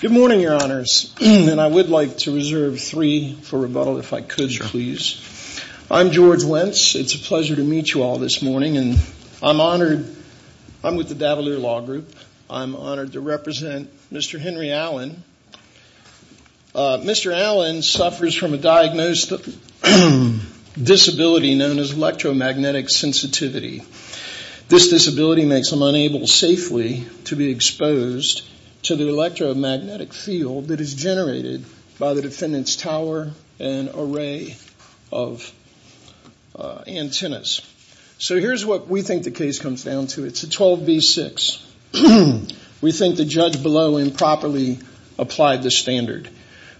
Good morning, your honors, and I would like to reserve three for rebuttal if I could, sir, please. I'm George Wentz. It's a pleasure to meet you all this morning, and I'm honored. I'm with the Davalier Law Group. I'm honored to represent Mr. Henry Allen. Mr. Allen suffers from a diagnosed disability known as electromagnetic sensitivity. This disability makes him unable safely to be exposed to the electromagnetic field that is generated by the defendant's tower and array of antennas. So here's what we think the case comes down to. It's a 12B6. We think the judge below improperly applied the standard.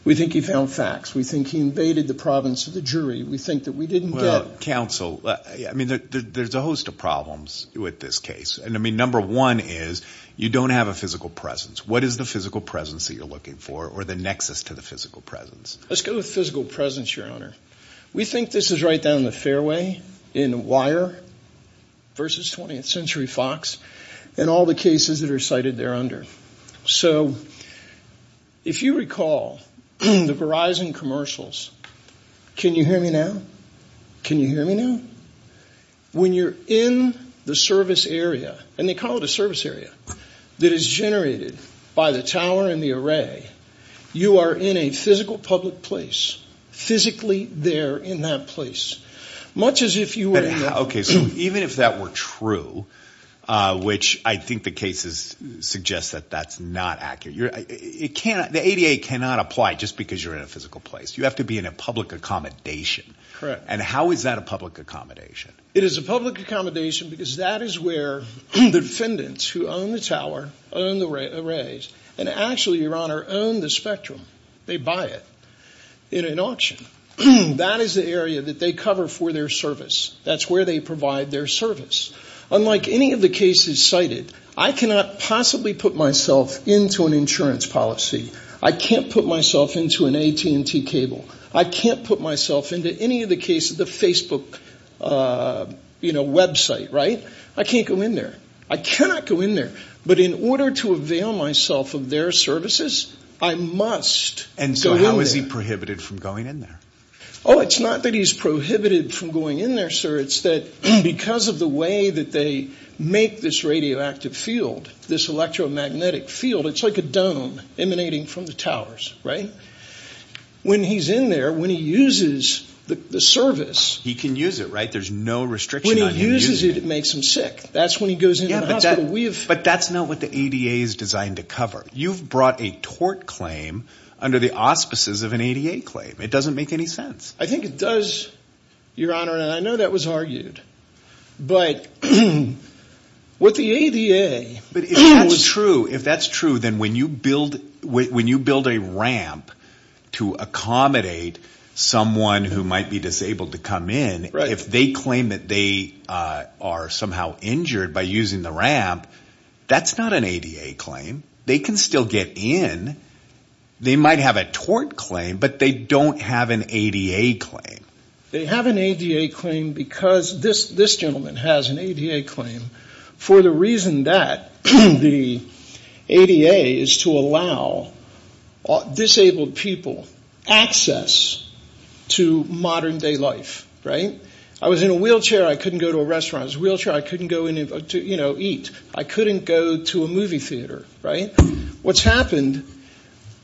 We think he found facts. We think he invaded the province of the jury. We think that we didn't get counsel. I mean, there's a host of problems with this case, and I think number one is you don't have a physical presence. What is the physical presence that you're looking for or the nexus to the physical presence? Let's go with physical presence, your honor. We think this is right down the fairway in WIRE versus 20th Century Fox and all the cases that are cited there under. So if you recall the Verizon commercials, can you hear me now? Can you recall the service area that is generated by the tower and the array? You are in a physical public place, physically there in that place, much as if you were... Okay, so even if that were true, which I think the cases suggest that that's not accurate, the ADA cannot apply just because you're in a physical place. You have to be in a public accommodation. Correct. And how is that a public accommodation? It is a public accommodation because that is where the defendants who own the tower, own the arrays, and actually, your honor, own the spectrum. They buy it in an auction. That is the area that they cover for their service. That's where they provide their service. Unlike any of the cases cited, I cannot possibly put myself into an insurance policy. I can't put myself into an AT&T cable. I can't put myself into any of the cases, the Facebook, you know, website, right? I can't go in there. I cannot go in there, but in order to avail myself of their services, I must go in there. And so how is he prohibited from going in there? Oh, it's not that he's prohibited from going in there, sir. It's that because of the way that they make this radioactive field, this electromagnetic field, it's like a dome emanating from the towers, right? When he's in there, when he uses the service... He can use it, right? There's no restriction on him using it. When he uses it, it makes him sick. That's when he goes in the hospital. But that's not what the ADA is designed to cover. You've brought a tort claim under the auspices of an ADA claim. It doesn't make any sense. I think it does, your honor, and I know that was argued, but what the ADA... But if that's true, if that's true, then when you build a ramp to accommodate someone who might be disabled to come in, if they claim that they are somehow injured by using the ramp, that's not an ADA claim. They can still get in. They might have a tort claim, but they don't have an ADA claim. They have an ADA claim because this gentleman has an ADA claim for the reason that the ADA is to allow disabled people access to modern-day life, right? I was in a wheelchair. I couldn't go to a restaurant. I was in a wheelchair. I couldn't go in to, you know, eat. I couldn't go to a movie theater, right? What's happened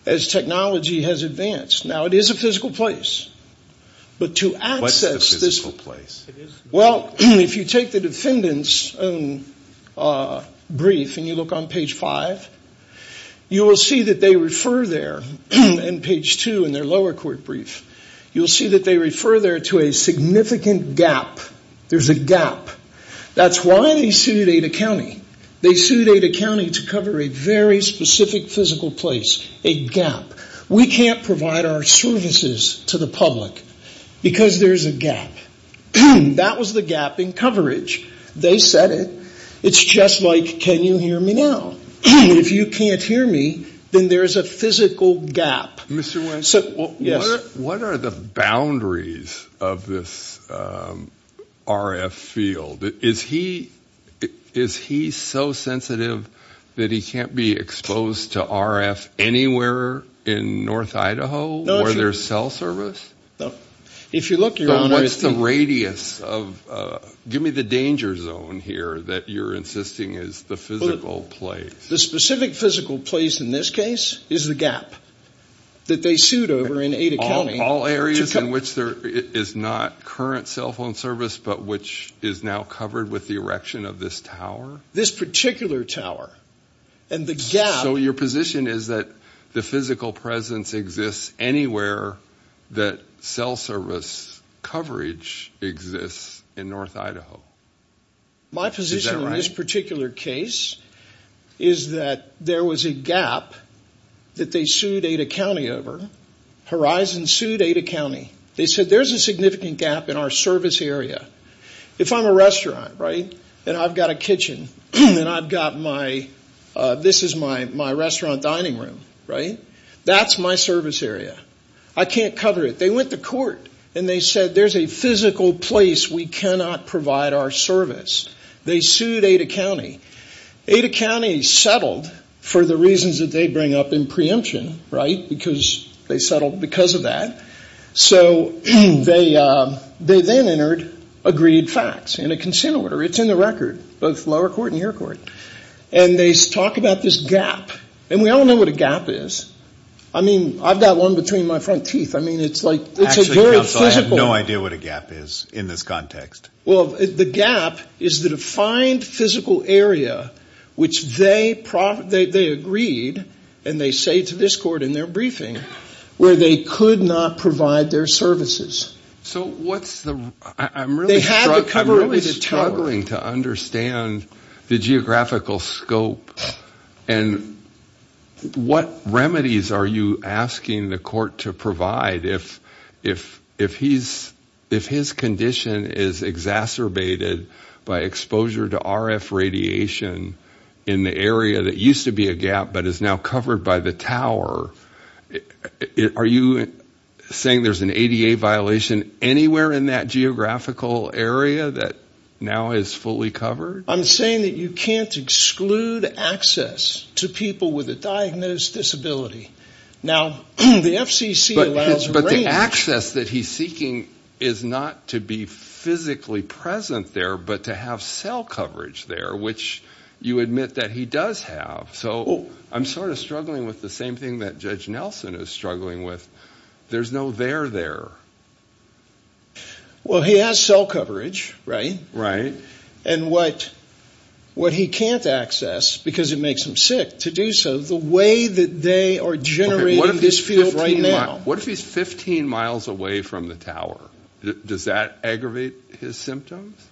as technology has advanced. Now, it is a physical place, but to access this... Well, if you take the defendant's brief and you look on page five, you will see that they refer there, on page two in their lower court brief, you'll see that they refer there to a significant gap. There's a gap. That's why they sued ADA County. They said, we can't provide our services to the public because there's a gap. That was the gap in coverage. They said it. It's just like, can you hear me now? If you can't hear me, then there's a physical gap. Mr. West, what are the boundaries of this RF field? Is he so sensitive that he can't be exposed to RF anywhere in North Idaho where there's cell service? No. If you look, your Honor... What's the radius of... Give me the danger zone here that you're insisting is the physical place. The specific physical place, in this case, is the gap that they sued over in Ada County. All areas in which there is not current cell phone service, but which is now covered with the erection of this tower? This particular tower. And the gap... So your position is that the physical presence exists anywhere that cell service coverage exists in North Idaho. My position in this particular case is that there was a gap that they sued Ada County over. Horizon sued Ada County. They said there's a significant gap in our service area. If I'm a restaurant, right, and I've got a kitchen, and I've got my... This is my restaurant dining room, right? That's my service area. I can't cover it. They went to court and they said there's a physical place we cannot provide our service. They sued Ada County. Ada County settled for the reasons that they bring up in preemption, right, because they settled because of that. So they then entered agreed facts in a consent order. It's in the record, both lower court and your court. And they talk about this gap. And we all know what a gap is. I mean, I've got one between my front teeth. I mean, it's a very physical... Actually, counsel, I have no idea what a gap is in this context. Well, the gap is the defined physical area which they agreed, and they say to this court in their briefing, where they could not provide their services. So what's the... I'm really struggling to understand the geographical scope, and what remedies are you asking the court to provide if his condition is exacerbated by exposure to RF radiation in the area that used to be a gap but is now covered by the tower? Are you saying there's an ADA violation anywhere in that geographical area that now is fully covered? I'm saying that you can't exclude access to people with a diagnosed disability. Now, the FCC allows... But the access that he's seeking is not to be physically present there, but to have cell coverage there, which you admit that he does have. So I'm sort of struggling with the same thing that Judge Nelson is struggling with. There's no there there. Well, he has cell coverage, right? Right. And what he can't access, because it makes him sick, to do so, the way that they are generating this field right now... What if he's 15 miles away from the tower? Does that aggravate his symptoms?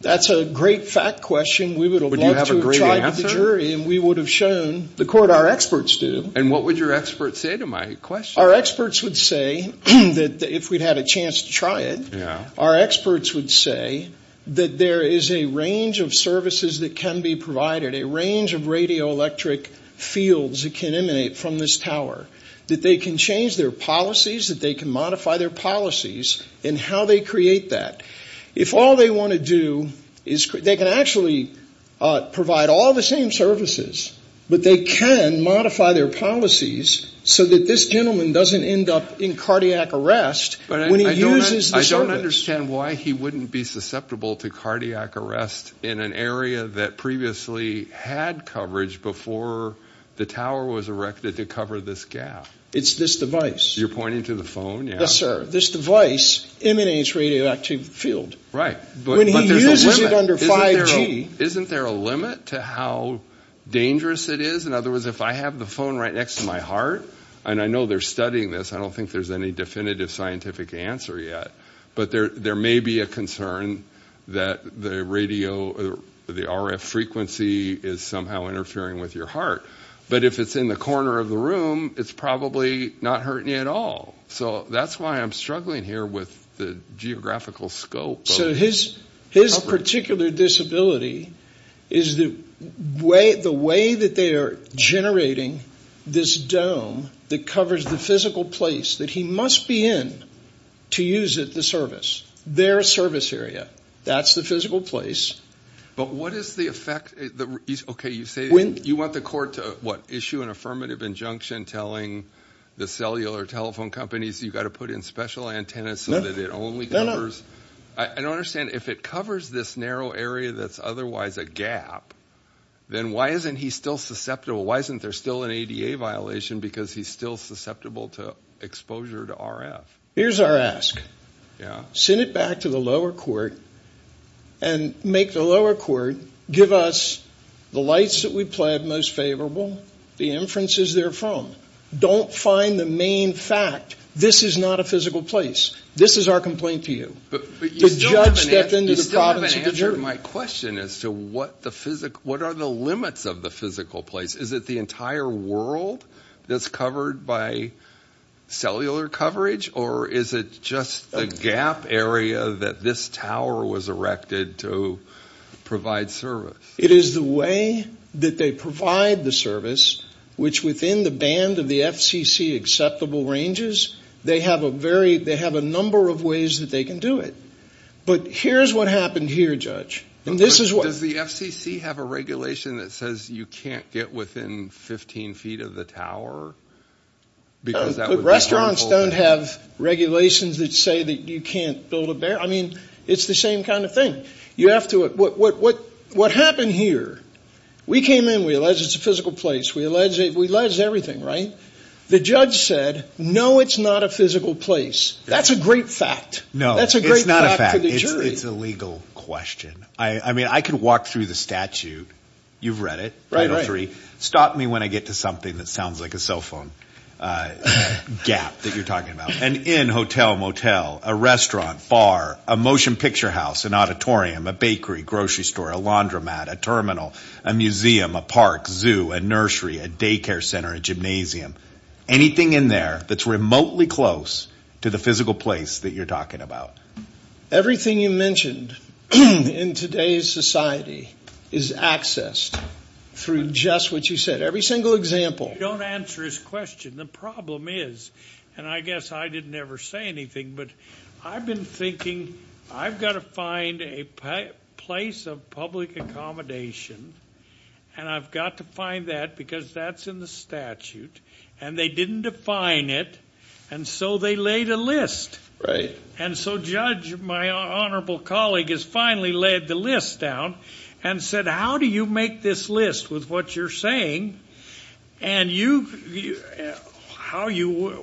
That's a great fact question. We would have loved to have tried with the jury, and we would have shown the court our experts do. And what would your experts say to my question? Our experts would say, if we'd had a chance to try it, our experts would say that there is a range of services that can be provided, a range of radioelectric fields that can emanate from this tower, that they can change their policies, that they can modify their policies, and how they create that. If all they want to do is... They can actually provide all the same services, but they can modify their policies so that this gentleman doesn't end up in cardiac arrest when he uses the service. I don't understand why he wouldn't be susceptible to cardiac arrest in an area that previously had coverage before the tower was erected to cover this gap. It's this device. You're pointing to the phone? Yes, sir. This device emanates radioactive field. Right, but isn't there a limit to how dangerous it is? In other words, if I have the phone right next to my heart, and I know they're studying this, I don't think there's any definitive scientific answer yet, but there may be a concern that the radio, the RF frequency is somehow interfering with your heart, but if it's in the corner of the room, it's probably not hurting you at all. So that's why I'm struggling here with the geographical scope. So his particular disability is the way that they are generating this dome that covers the physical place that he must be in to use the service. Their service area. That's the physical place. But what is the effect? Okay, you say you want the court to issue an affirmative injunction telling the cellular telephone companies you've got to put in special antennas so that it only covers. I don't understand, if it covers this narrow area that's otherwise a gap, then why isn't he still susceptible? Why isn't there still an ADA violation because he's still susceptible to exposure to RF? Here's our ask. Send it back to the lower court and make the lower court give us the lights that we pled most favorable, the inferences they're from. Don't find the main fact, this is not a physical place. This is our complaint to you. But you still haven't answered my question as to what are the limits of the physical place. Is it the entire world that's covered by cellular coverage or is it just the gap area that this tower was erected to provide service? It is the way that they provide the service, which within the band of the FCC acceptable ranges, they have a number of ways that they can do it. But here's what happened here, Judge. And this is what. Does the FCC have a regulation that says you can't get within 15 feet of the tower? Restaurants don't have regulations that say that you can't build a barrier. It's the same kind of thing. What happened here, we came in, we alleged it's a physical place, we alleged everything, right? The judge said, no, it's not a physical place. That's a great fact. No, it's not a fact. It's a legal question. I mean, I could walk through the statute. You've read it, Title III. Stop me when I get to something that sounds like a cell phone gap that you're talking about. An inn, hotel, motel, a restaurant, bar, a motion picture house, an auditorium, a bakery, grocery store, a laundromat, a terminal, a museum, a park, zoo, a nursery, a daycare center, a gymnasium, anything in there that's remotely close to the physical place that you're talking about. Everything you mentioned in today's society is accessed through just what you said. Every single example. You don't answer his question. The problem is, and I guess I didn't ever say anything, but I've been thinking, I've got to find a place of public accommodation, and I've got to find that because that's in the statute, and they didn't define it, and so they laid a list. And so Judge, my honorable colleague, has finally laid the list down and said, how do you make this list with what you're saying and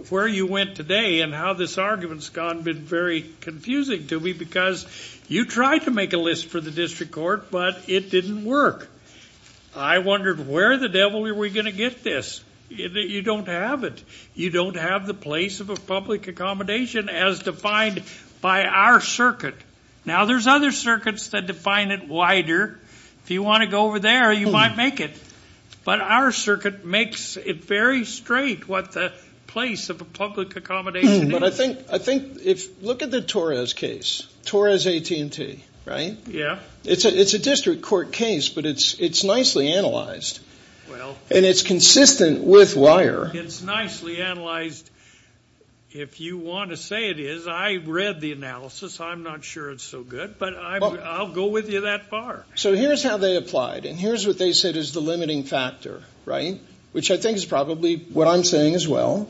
where you went today and how this argument's gone has been very confusing to me because you tried to make a list for the district court, but it didn't work. I wondered where the devil were we going to get this. You don't have it. You don't have the place of a public accommodation as defined by our circuit. Now, there's other circuits that define it wider. If you want to go over there, you might make it, but our circuit makes it very straight what the place of a public accommodation is. Look at the Torres case, Torres AT&T, right? It's a district court case, but it's nicely analyzed, and it's consistent with WIRE. It's nicely analyzed. If you want to say it is, I read the analysis. I'm not sure it's so good, but I'll go with you that far. So here's how they applied, and here's what they said is the limiting factor, right, which I think is probably what I'm saying as well,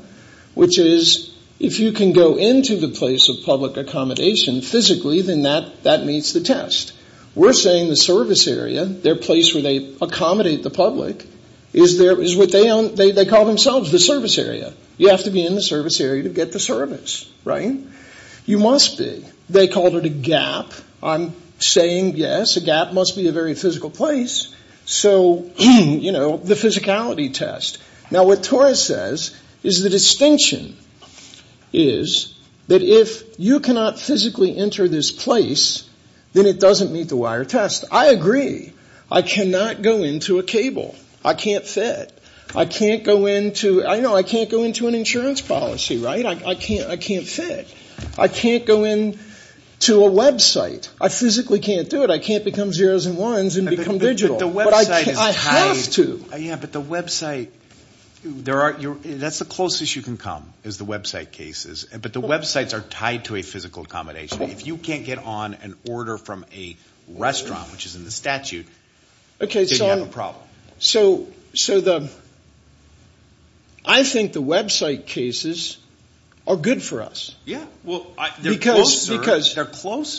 which is if you can go into the place of public accommodation physically, then that meets the test. We're saying the service area, their place where they accommodate the public, is what they call themselves the service area. You have to be in the service area to get the service, right? You must be. They called it a gap. I'm saying, yes, a gap must be a very physical place, so the physicality test. Now, what Torres says is the distinction is that if you cannot physically enter this place, then it doesn't meet the WIRE test. I agree. I cannot go into a cable. I can't fit. I can't go into an insurance policy, right? I can't fit. I can't go into a website. I physically can't do it. I can't become zeros and ones and become digital. I have to. Yeah, but the website, that's the closest you can come is the website cases, but the websites are tied to a physical accommodation. If you can't get on an order from a restaurant, which is in the statute, then you have a problem. So I think the website cases are good for us. Yeah, well, they're closer.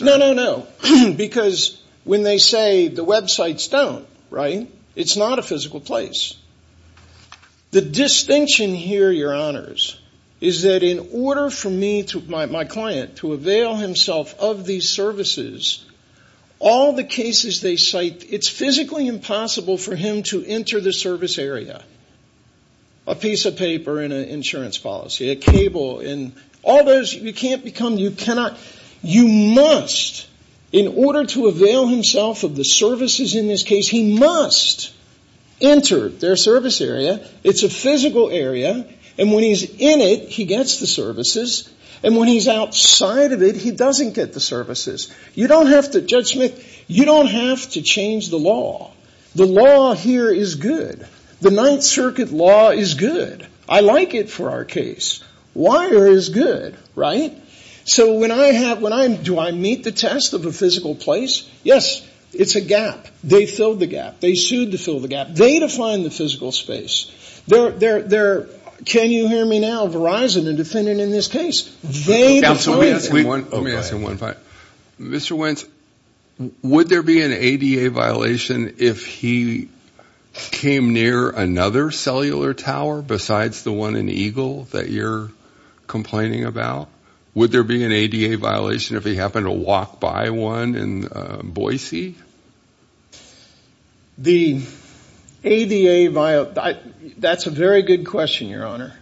No, no, no, because when they say the websites don't, right, it's not a physical place. The distinction here, your honors, is that in order for me to, my client, to avail himself of these services, all the cases they cite, it's physically impossible for him to enter the service area. A piece of paper in an insurance policy, a cable, and all those, you can't become, you cannot, you must, in order to avail himself of the services in this case, he must enter. It's a physical area, and when he's in it, he gets the services, and when he's outside of it, he doesn't get the services. You don't have to, Judge Smith, you don't have to change the law. The law here is good. The Ninth Circuit law is good. I like it for our case. Wire is good, right? So when I have, when I, do I meet the test of a physical place? Yes, it's a gap. They filled the gap. They sued to fill the gap. They define the physical space. They're, can you hear me now, Verizon, a defendant in this case, they define it. Mr. Wentz, would there be an ADA violation if he came near another cellular tower besides the one in Eagle that you're complaining about? Would there be an ADA violation if he happened to walk by one in Boise? The ADA, that's a very good question, Your Honor,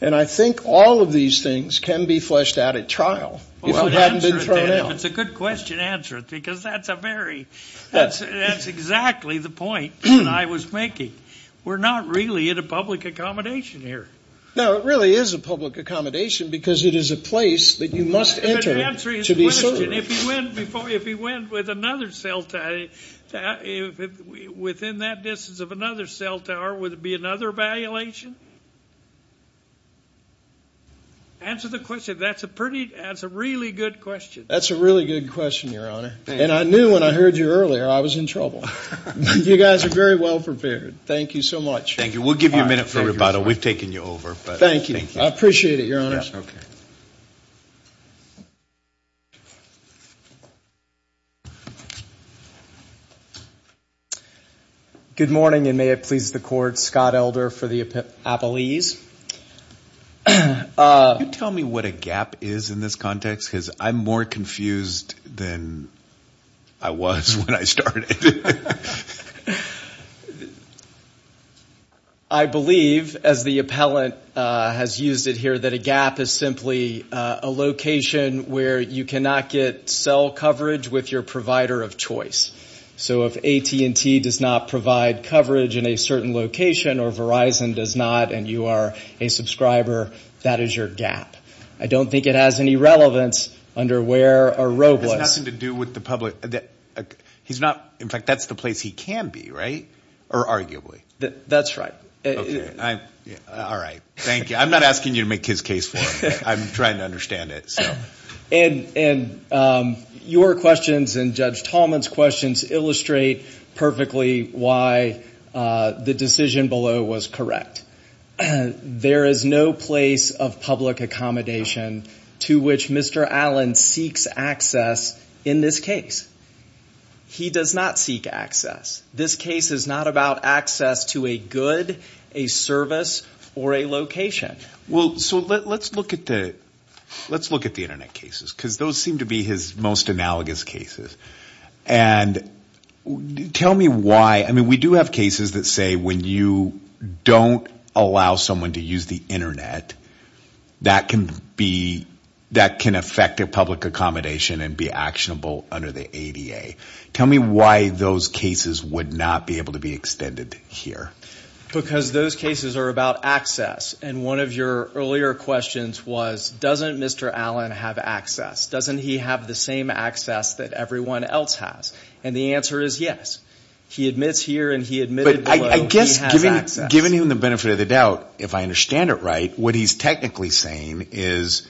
and I think all of these things can be fleshed out at trial if it hadn't been thrown out. If it's a good question, answer it, because that's a very, that's exactly the point that I was making. We're not really in a public accommodation here. No, it really is a public accommodation because it is a place that you must enter to be served. If he went before, if he went with another cell tower, within that distance of another cell tower, would there be another violation? Answer the question. That's a pretty, that's a really good question. That's a really good question, Your Honor, and I knew when I heard you earlier I was in trouble. You guys are very well prepared. Thank you so much. Thank you. We'll give you a minute for rebuttal. We've taken you over. Thank you. I appreciate it, Your Honor. Good morning, and may it please the Court. Scott Elder for the appellees. Can you tell me what a gap is in this context? Because I'm more confused than I was when I started. I believe, as the appellant has used it here, that a gap is simply a location where you cannot get cell coverage with your provider of choice. So if AT&T does not provide coverage in a certain location or Verizon does not and you are a subscriber, that is your gap. I don't think it has any relevance under where a robust. It has nothing to do with the public. He's not, in fact, that's the place he can be, right? Or arguably. That's right. All right. Thank you. I'm not asking you to make his case for him. I'm trying to understand it. And your questions and Judge Tallman's questions illustrate perfectly why the decision below was correct. There is no place of public accommodation to which Mr. Allen seeks access in this case. He does not seek access. This case is not about access to a good, a service, or a location. Well, so let's look at the Internet cases, because those seem to be his most analogous cases. And tell me why, I mean, we do have cases that say when you don't allow someone to use the Internet, that can affect a public accommodation and be actionable under the ADA. Tell me why those cases would not be able to be extended here. Because those cases are about access. And one of your earlier questions was, doesn't Mr. Allen have access? Doesn't he have the same access that everyone else has? And the answer is yes. He admits here and he admitted below he has access. But I guess, given him the benefit of the doubt, if I understand it right, what he's technically saying is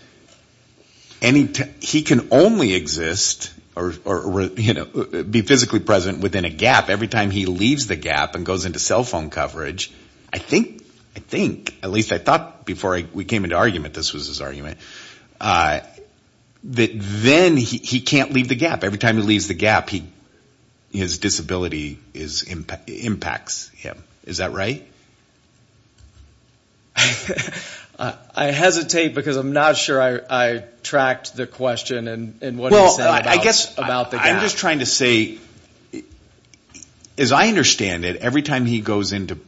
he can only exist or be physically present within a gap every time he leaves the gap and goes into cell phone coverage. I think, at least I thought before we came into argument this was his argument, that then he can't leave the gap. Every time he leaves the gap, his disability impacts him. Is that right? I hesitate because I'm not sure I tracked the question and what he said about the gap. I'm just trying to say, as I understand it, every time he goes into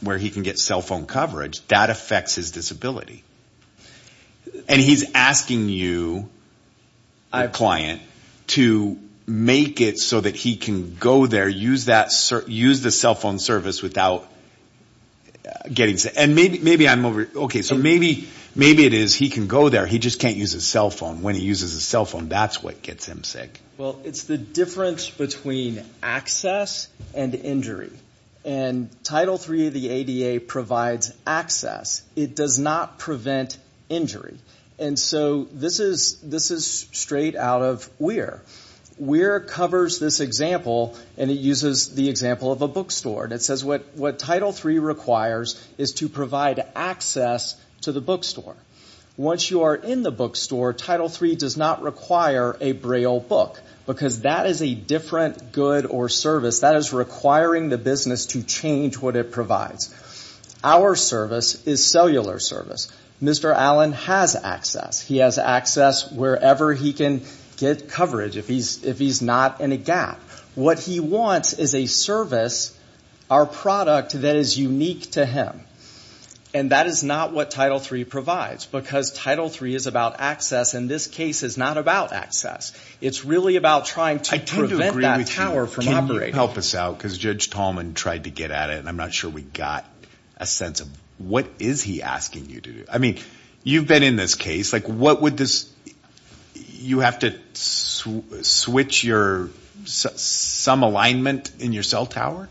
where he can get cell phone coverage, that affects his disability. And he's asking you, the client, to make it so that he can go there, use the cell phone service without getting sick. Maybe it is he can go there, he just can't use his cell phone. When he uses his cell phone, that's what gets him sick. Well, it's the difference between access and injury. And Title III of the ADA provides access. It does not prevent injury. And so this is straight out of WEAR. WEAR covers this example, and it uses the example of a bookstore. It says what Title III requires is to provide access to the bookstore. Once you are in the bookstore, Title III does not require a Braille book because that is a different good or service. That is requiring the business to change what it provides. Our service is cellular service. Mr. Allen has access. He has access wherever he can get coverage if he's not in a gap. What he wants is a service, our product, that is unique to him. And that is not what Title III provides because Title III is about access, and this case is not about access. It's really about trying to prevent that tower from operating. Can you help us out? Because Judge Tallman tried to get at it, and I'm not sure we got a sense of what is he asking you to do. I mean, you've been in this case. Like, what would this – you have to switch some alignment in your cell tower?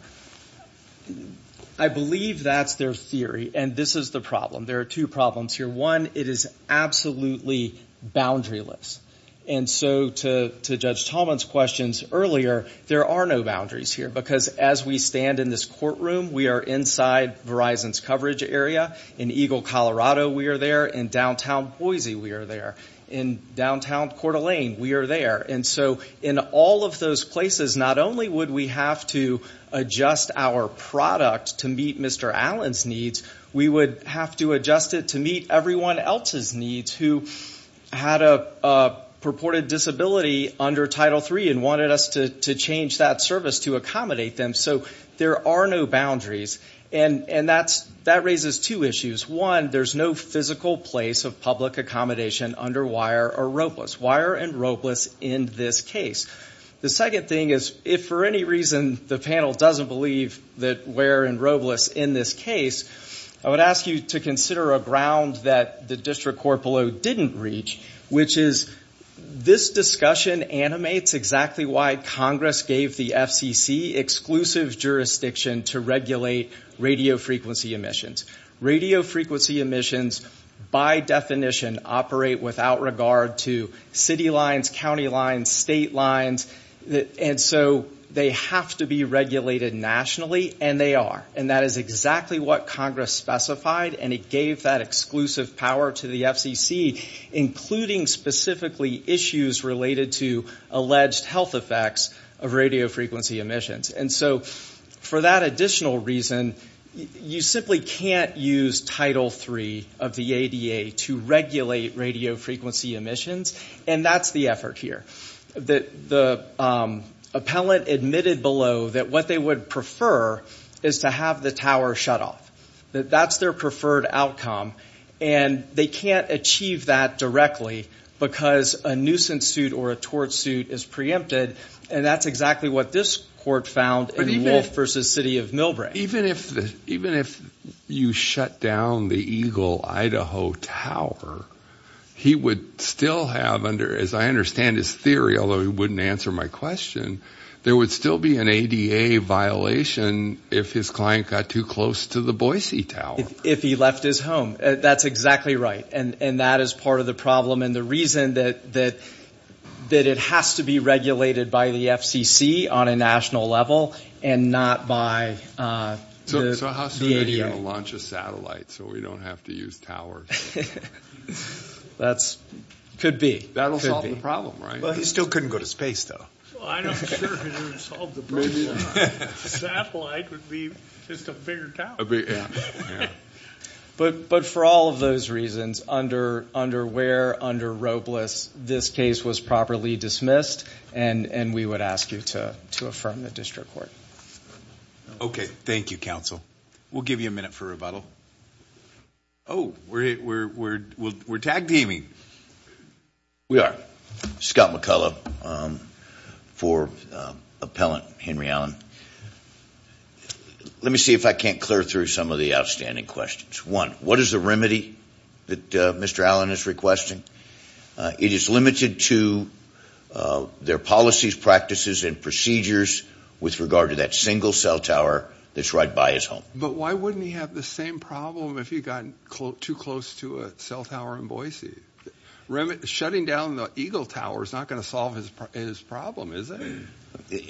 I believe that's their theory, and this is the problem. There are two problems here. One, it is absolutely boundaryless. And so to Judge Tallman's questions earlier, there are no boundaries here because as we stand in this courtroom, we are inside Verizon's coverage area. In Eagle, Colorado, we are there. In downtown Boise, we are there. In downtown Coeur d'Alene, we are there. And so in all of those places, not only would we have to adjust our product to meet Mr. Allen's needs, we would have to adjust it to meet everyone else's needs who had a purported disability under Title III and wanted us to change that service to accommodate them. So there are no boundaries. And that raises two issues. One, there's no physical place of public accommodation under wire or ropeless. Wire and ropeless in this case. The second thing is if for any reason the panel doesn't believe that wire and ropeless in this case, I would ask you to consider a ground that the district court below didn't reach, which is this discussion animates exactly why Congress gave the FCC exclusive jurisdiction to regulate radiofrequency emissions. Radiofrequency emissions by definition operate without regard to city lines, county lines, state lines. And so they have to be regulated nationally, and they are. And that is exactly what Congress specified, and it gave that exclusive power to the FCC, including specifically issues related to alleged health effects of radiofrequency emissions. And so for that additional reason, you simply can't use Title III of the ADA to regulate radiofrequency emissions, and that's the effort here. The appellant admitted below that what they would prefer is to have the tower shut off. That's their preferred outcome. And they can't achieve that directly because a nuisance suit or a tort suit is preempted, and that's exactly what this court found in Wolfe v. City of Millbrae. Even if you shut down the Eagle-Idaho Tower, he would still have under, as I understand his theory, although he wouldn't answer my question, there would still be an ADA violation if his client got too close to the Boise Tower. If he left his home. That's exactly right, and that is part of the problem. And the reason that it has to be regulated by the FCC on a national level and not by the ADA. So how soon are you going to launch a satellite so we don't have to use towers? That could be. That'll solve the problem, right? He still couldn't go to space, though. I'm not sure it could even solve the problem. A satellite would be just a bigger tower. But for all of those reasons, under Ware, under Robles, this case was properly dismissed, and we would ask you to affirm the district court. Okay. Thank you, counsel. We'll give you a minute for rebuttal. Oh, we're tag-teaming. We are. Scott McCullough for Appellant Henry Allen. Let me see if I can't clear through some of the outstanding questions. One, what is the remedy that Mr. Allen is requesting? It is limited to their policies, practices, and procedures with regard to that single cell tower that's right by his home. But why wouldn't he have the same problem if he got too close to a cell tower in Boise? Shutting down the Eagle Tower is not going to solve his problem, is it?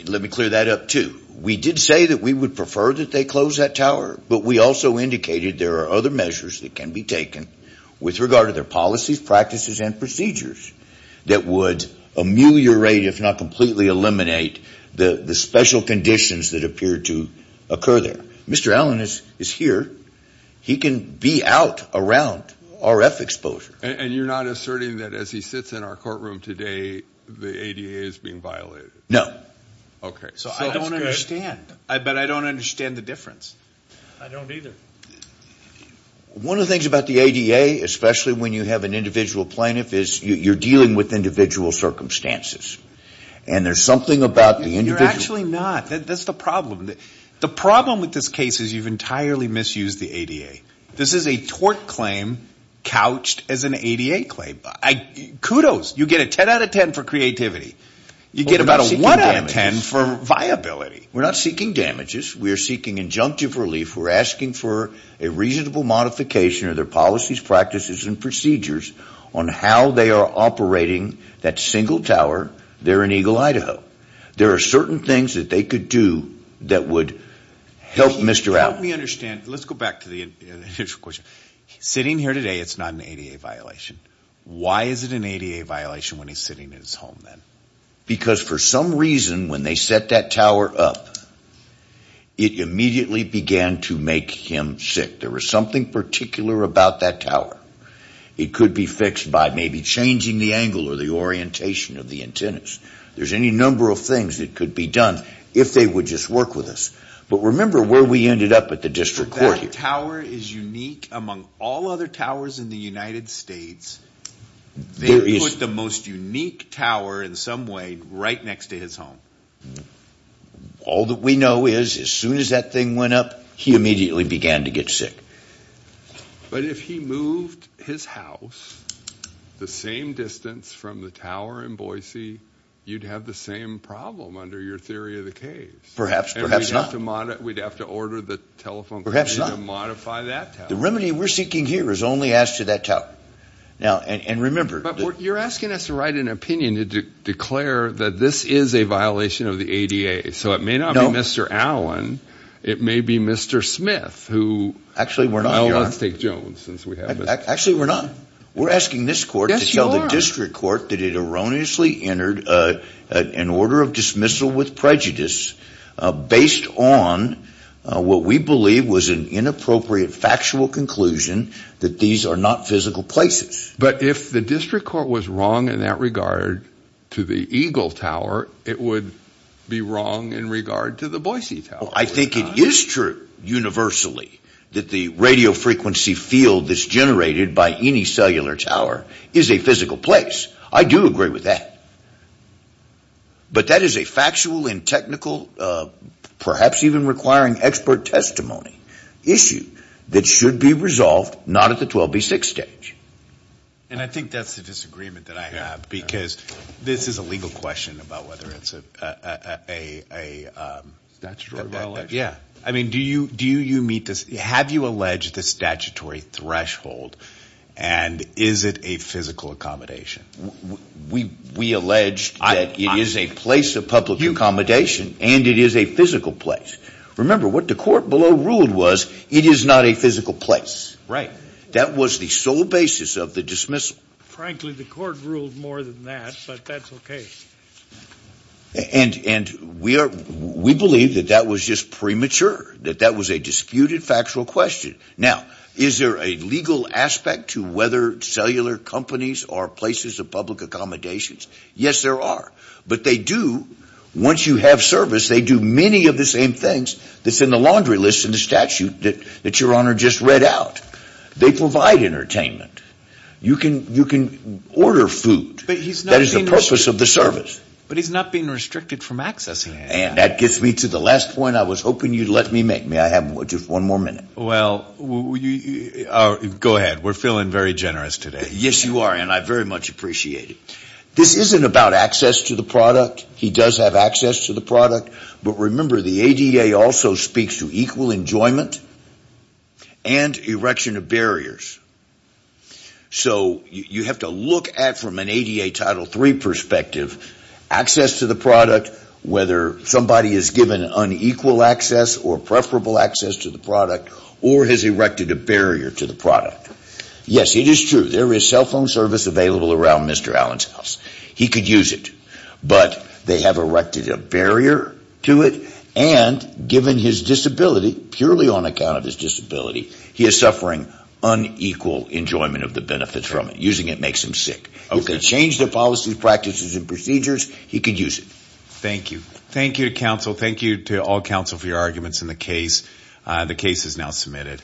Let me clear that up, too. We did say that we would prefer that they close that tower, but we also indicated there are other measures that can be taken with regard to their policies, practices, and procedures that would ameliorate, if not completely eliminate, the special conditions that appear to occur there. Mr. Allen is here. He can be out around RF exposure. And you're not asserting that as he sits in our courtroom today, the ADA is being violated? No. Okay. So I don't understand. But I don't understand the difference. I don't either. One of the things about the ADA, especially when you have an individual plaintiff, is you're dealing with individual circumstances. And there's something about the individual. You're actually not. That's the problem. The problem with this case is you've entirely misused the ADA. This is a tort claim couched as an ADA claim. Kudos. You get a 10 out of 10 for creativity. You get about a 1 out of 10 for viability. We're not seeking damages. We are seeking injunctive relief. We're asking for a reasonable modification of their policies, practices, and procedures on how they are operating that single tower there in Eagle, Idaho. There are certain things that they could do that would help Mr. Allen. Help me understand. Let's go back to the initial question. Sitting here today, it's not an ADA violation. Why is it an ADA violation when he's sitting in his home then? Because for some reason, when they set that tower up, it immediately began to make him sick. There was something particular about that tower. It could be fixed by maybe changing the angle or the orientation of the antennas. There's any number of things that could be done if they would just work with us. But remember where we ended up at the district court here. If that tower is unique among all other towers in the United States, they put the most unique tower in some way right next to his home. All that we know is as soon as that thing went up, he immediately began to get sick. But if he moved his house the same distance from the tower in Boise, you'd have the same problem under your theory of the case. Perhaps, perhaps not. We'd have to order the telephone company to modify that tower. The remedy we're seeking here is only as to that tower. Now, and remember. But you're asking us to write an opinion to declare that this is a violation of the ADA. So it may not be Mr. Allen. It may be Mr. Smith who. Actually, we're not. Oh, let's take Jones since we have him. Actually, we're not. We're asking this court to tell the district court that it erroneously entered an order of dismissal with prejudice based on what we believe was an inappropriate factual conclusion that these are not physical places. But if the district court was wrong in that regard to the Eagle Tower, it would be wrong in regard to the Boise Tower. I think it is true universally that the radio frequency field that's generated by any cellular tower is a physical place. I do agree with that. But that is a factual and technical, perhaps even requiring expert testimony, issue that should be resolved not at the 12B6 stage. And I think that's the disagreement that I have because this is a legal question about whether it's a statutory violation. Yeah. I mean, do you meet this? Have you alleged the statutory threshold? And is it a physical accommodation? We allege that it is a place of public accommodation and it is a physical place. Remember, what the court below ruled was it is not a physical place. Right. That was the sole basis of the dismissal. Frankly, the court ruled more than that, but that's okay. And we believe that that was just premature, that that was a disputed factual question. Now, is there a legal aspect to whether cellular companies are places of public accommodations? Yes, there are. But they do, once you have service, they do many of the same things that's in the laundry list in the statute that Your Honor just read out. They provide entertainment. You can order food. But he's not being restricted. That is the purpose of the service. But he's not being restricted from accessing it. And that gets me to the last point I was hoping you'd let me make. May I have just one more minute? Well, go ahead. We're feeling very generous today. Yes, you are, and I very much appreciate it. This isn't about access to the product. He does have access to the product. But remember, the ADA also speaks to equal enjoyment and erection of barriers. So you have to look at, from an ADA Title III perspective, access to the product, whether somebody is given unequal access or preferable access to the product or has erected a barrier to the product. Yes, it is true. There is cell phone service available around Mr. Allen's house. He could use it. But they have erected a barrier to it, and given his disability, purely on account of his disability, he is suffering unequal enjoyment of the benefits from it. Using it makes him sick. He could change the policies, practices, and procedures. He could use it. Thank you. Thank you to counsel. Thank you to all counsel for your arguments in the case. The case is now submitted.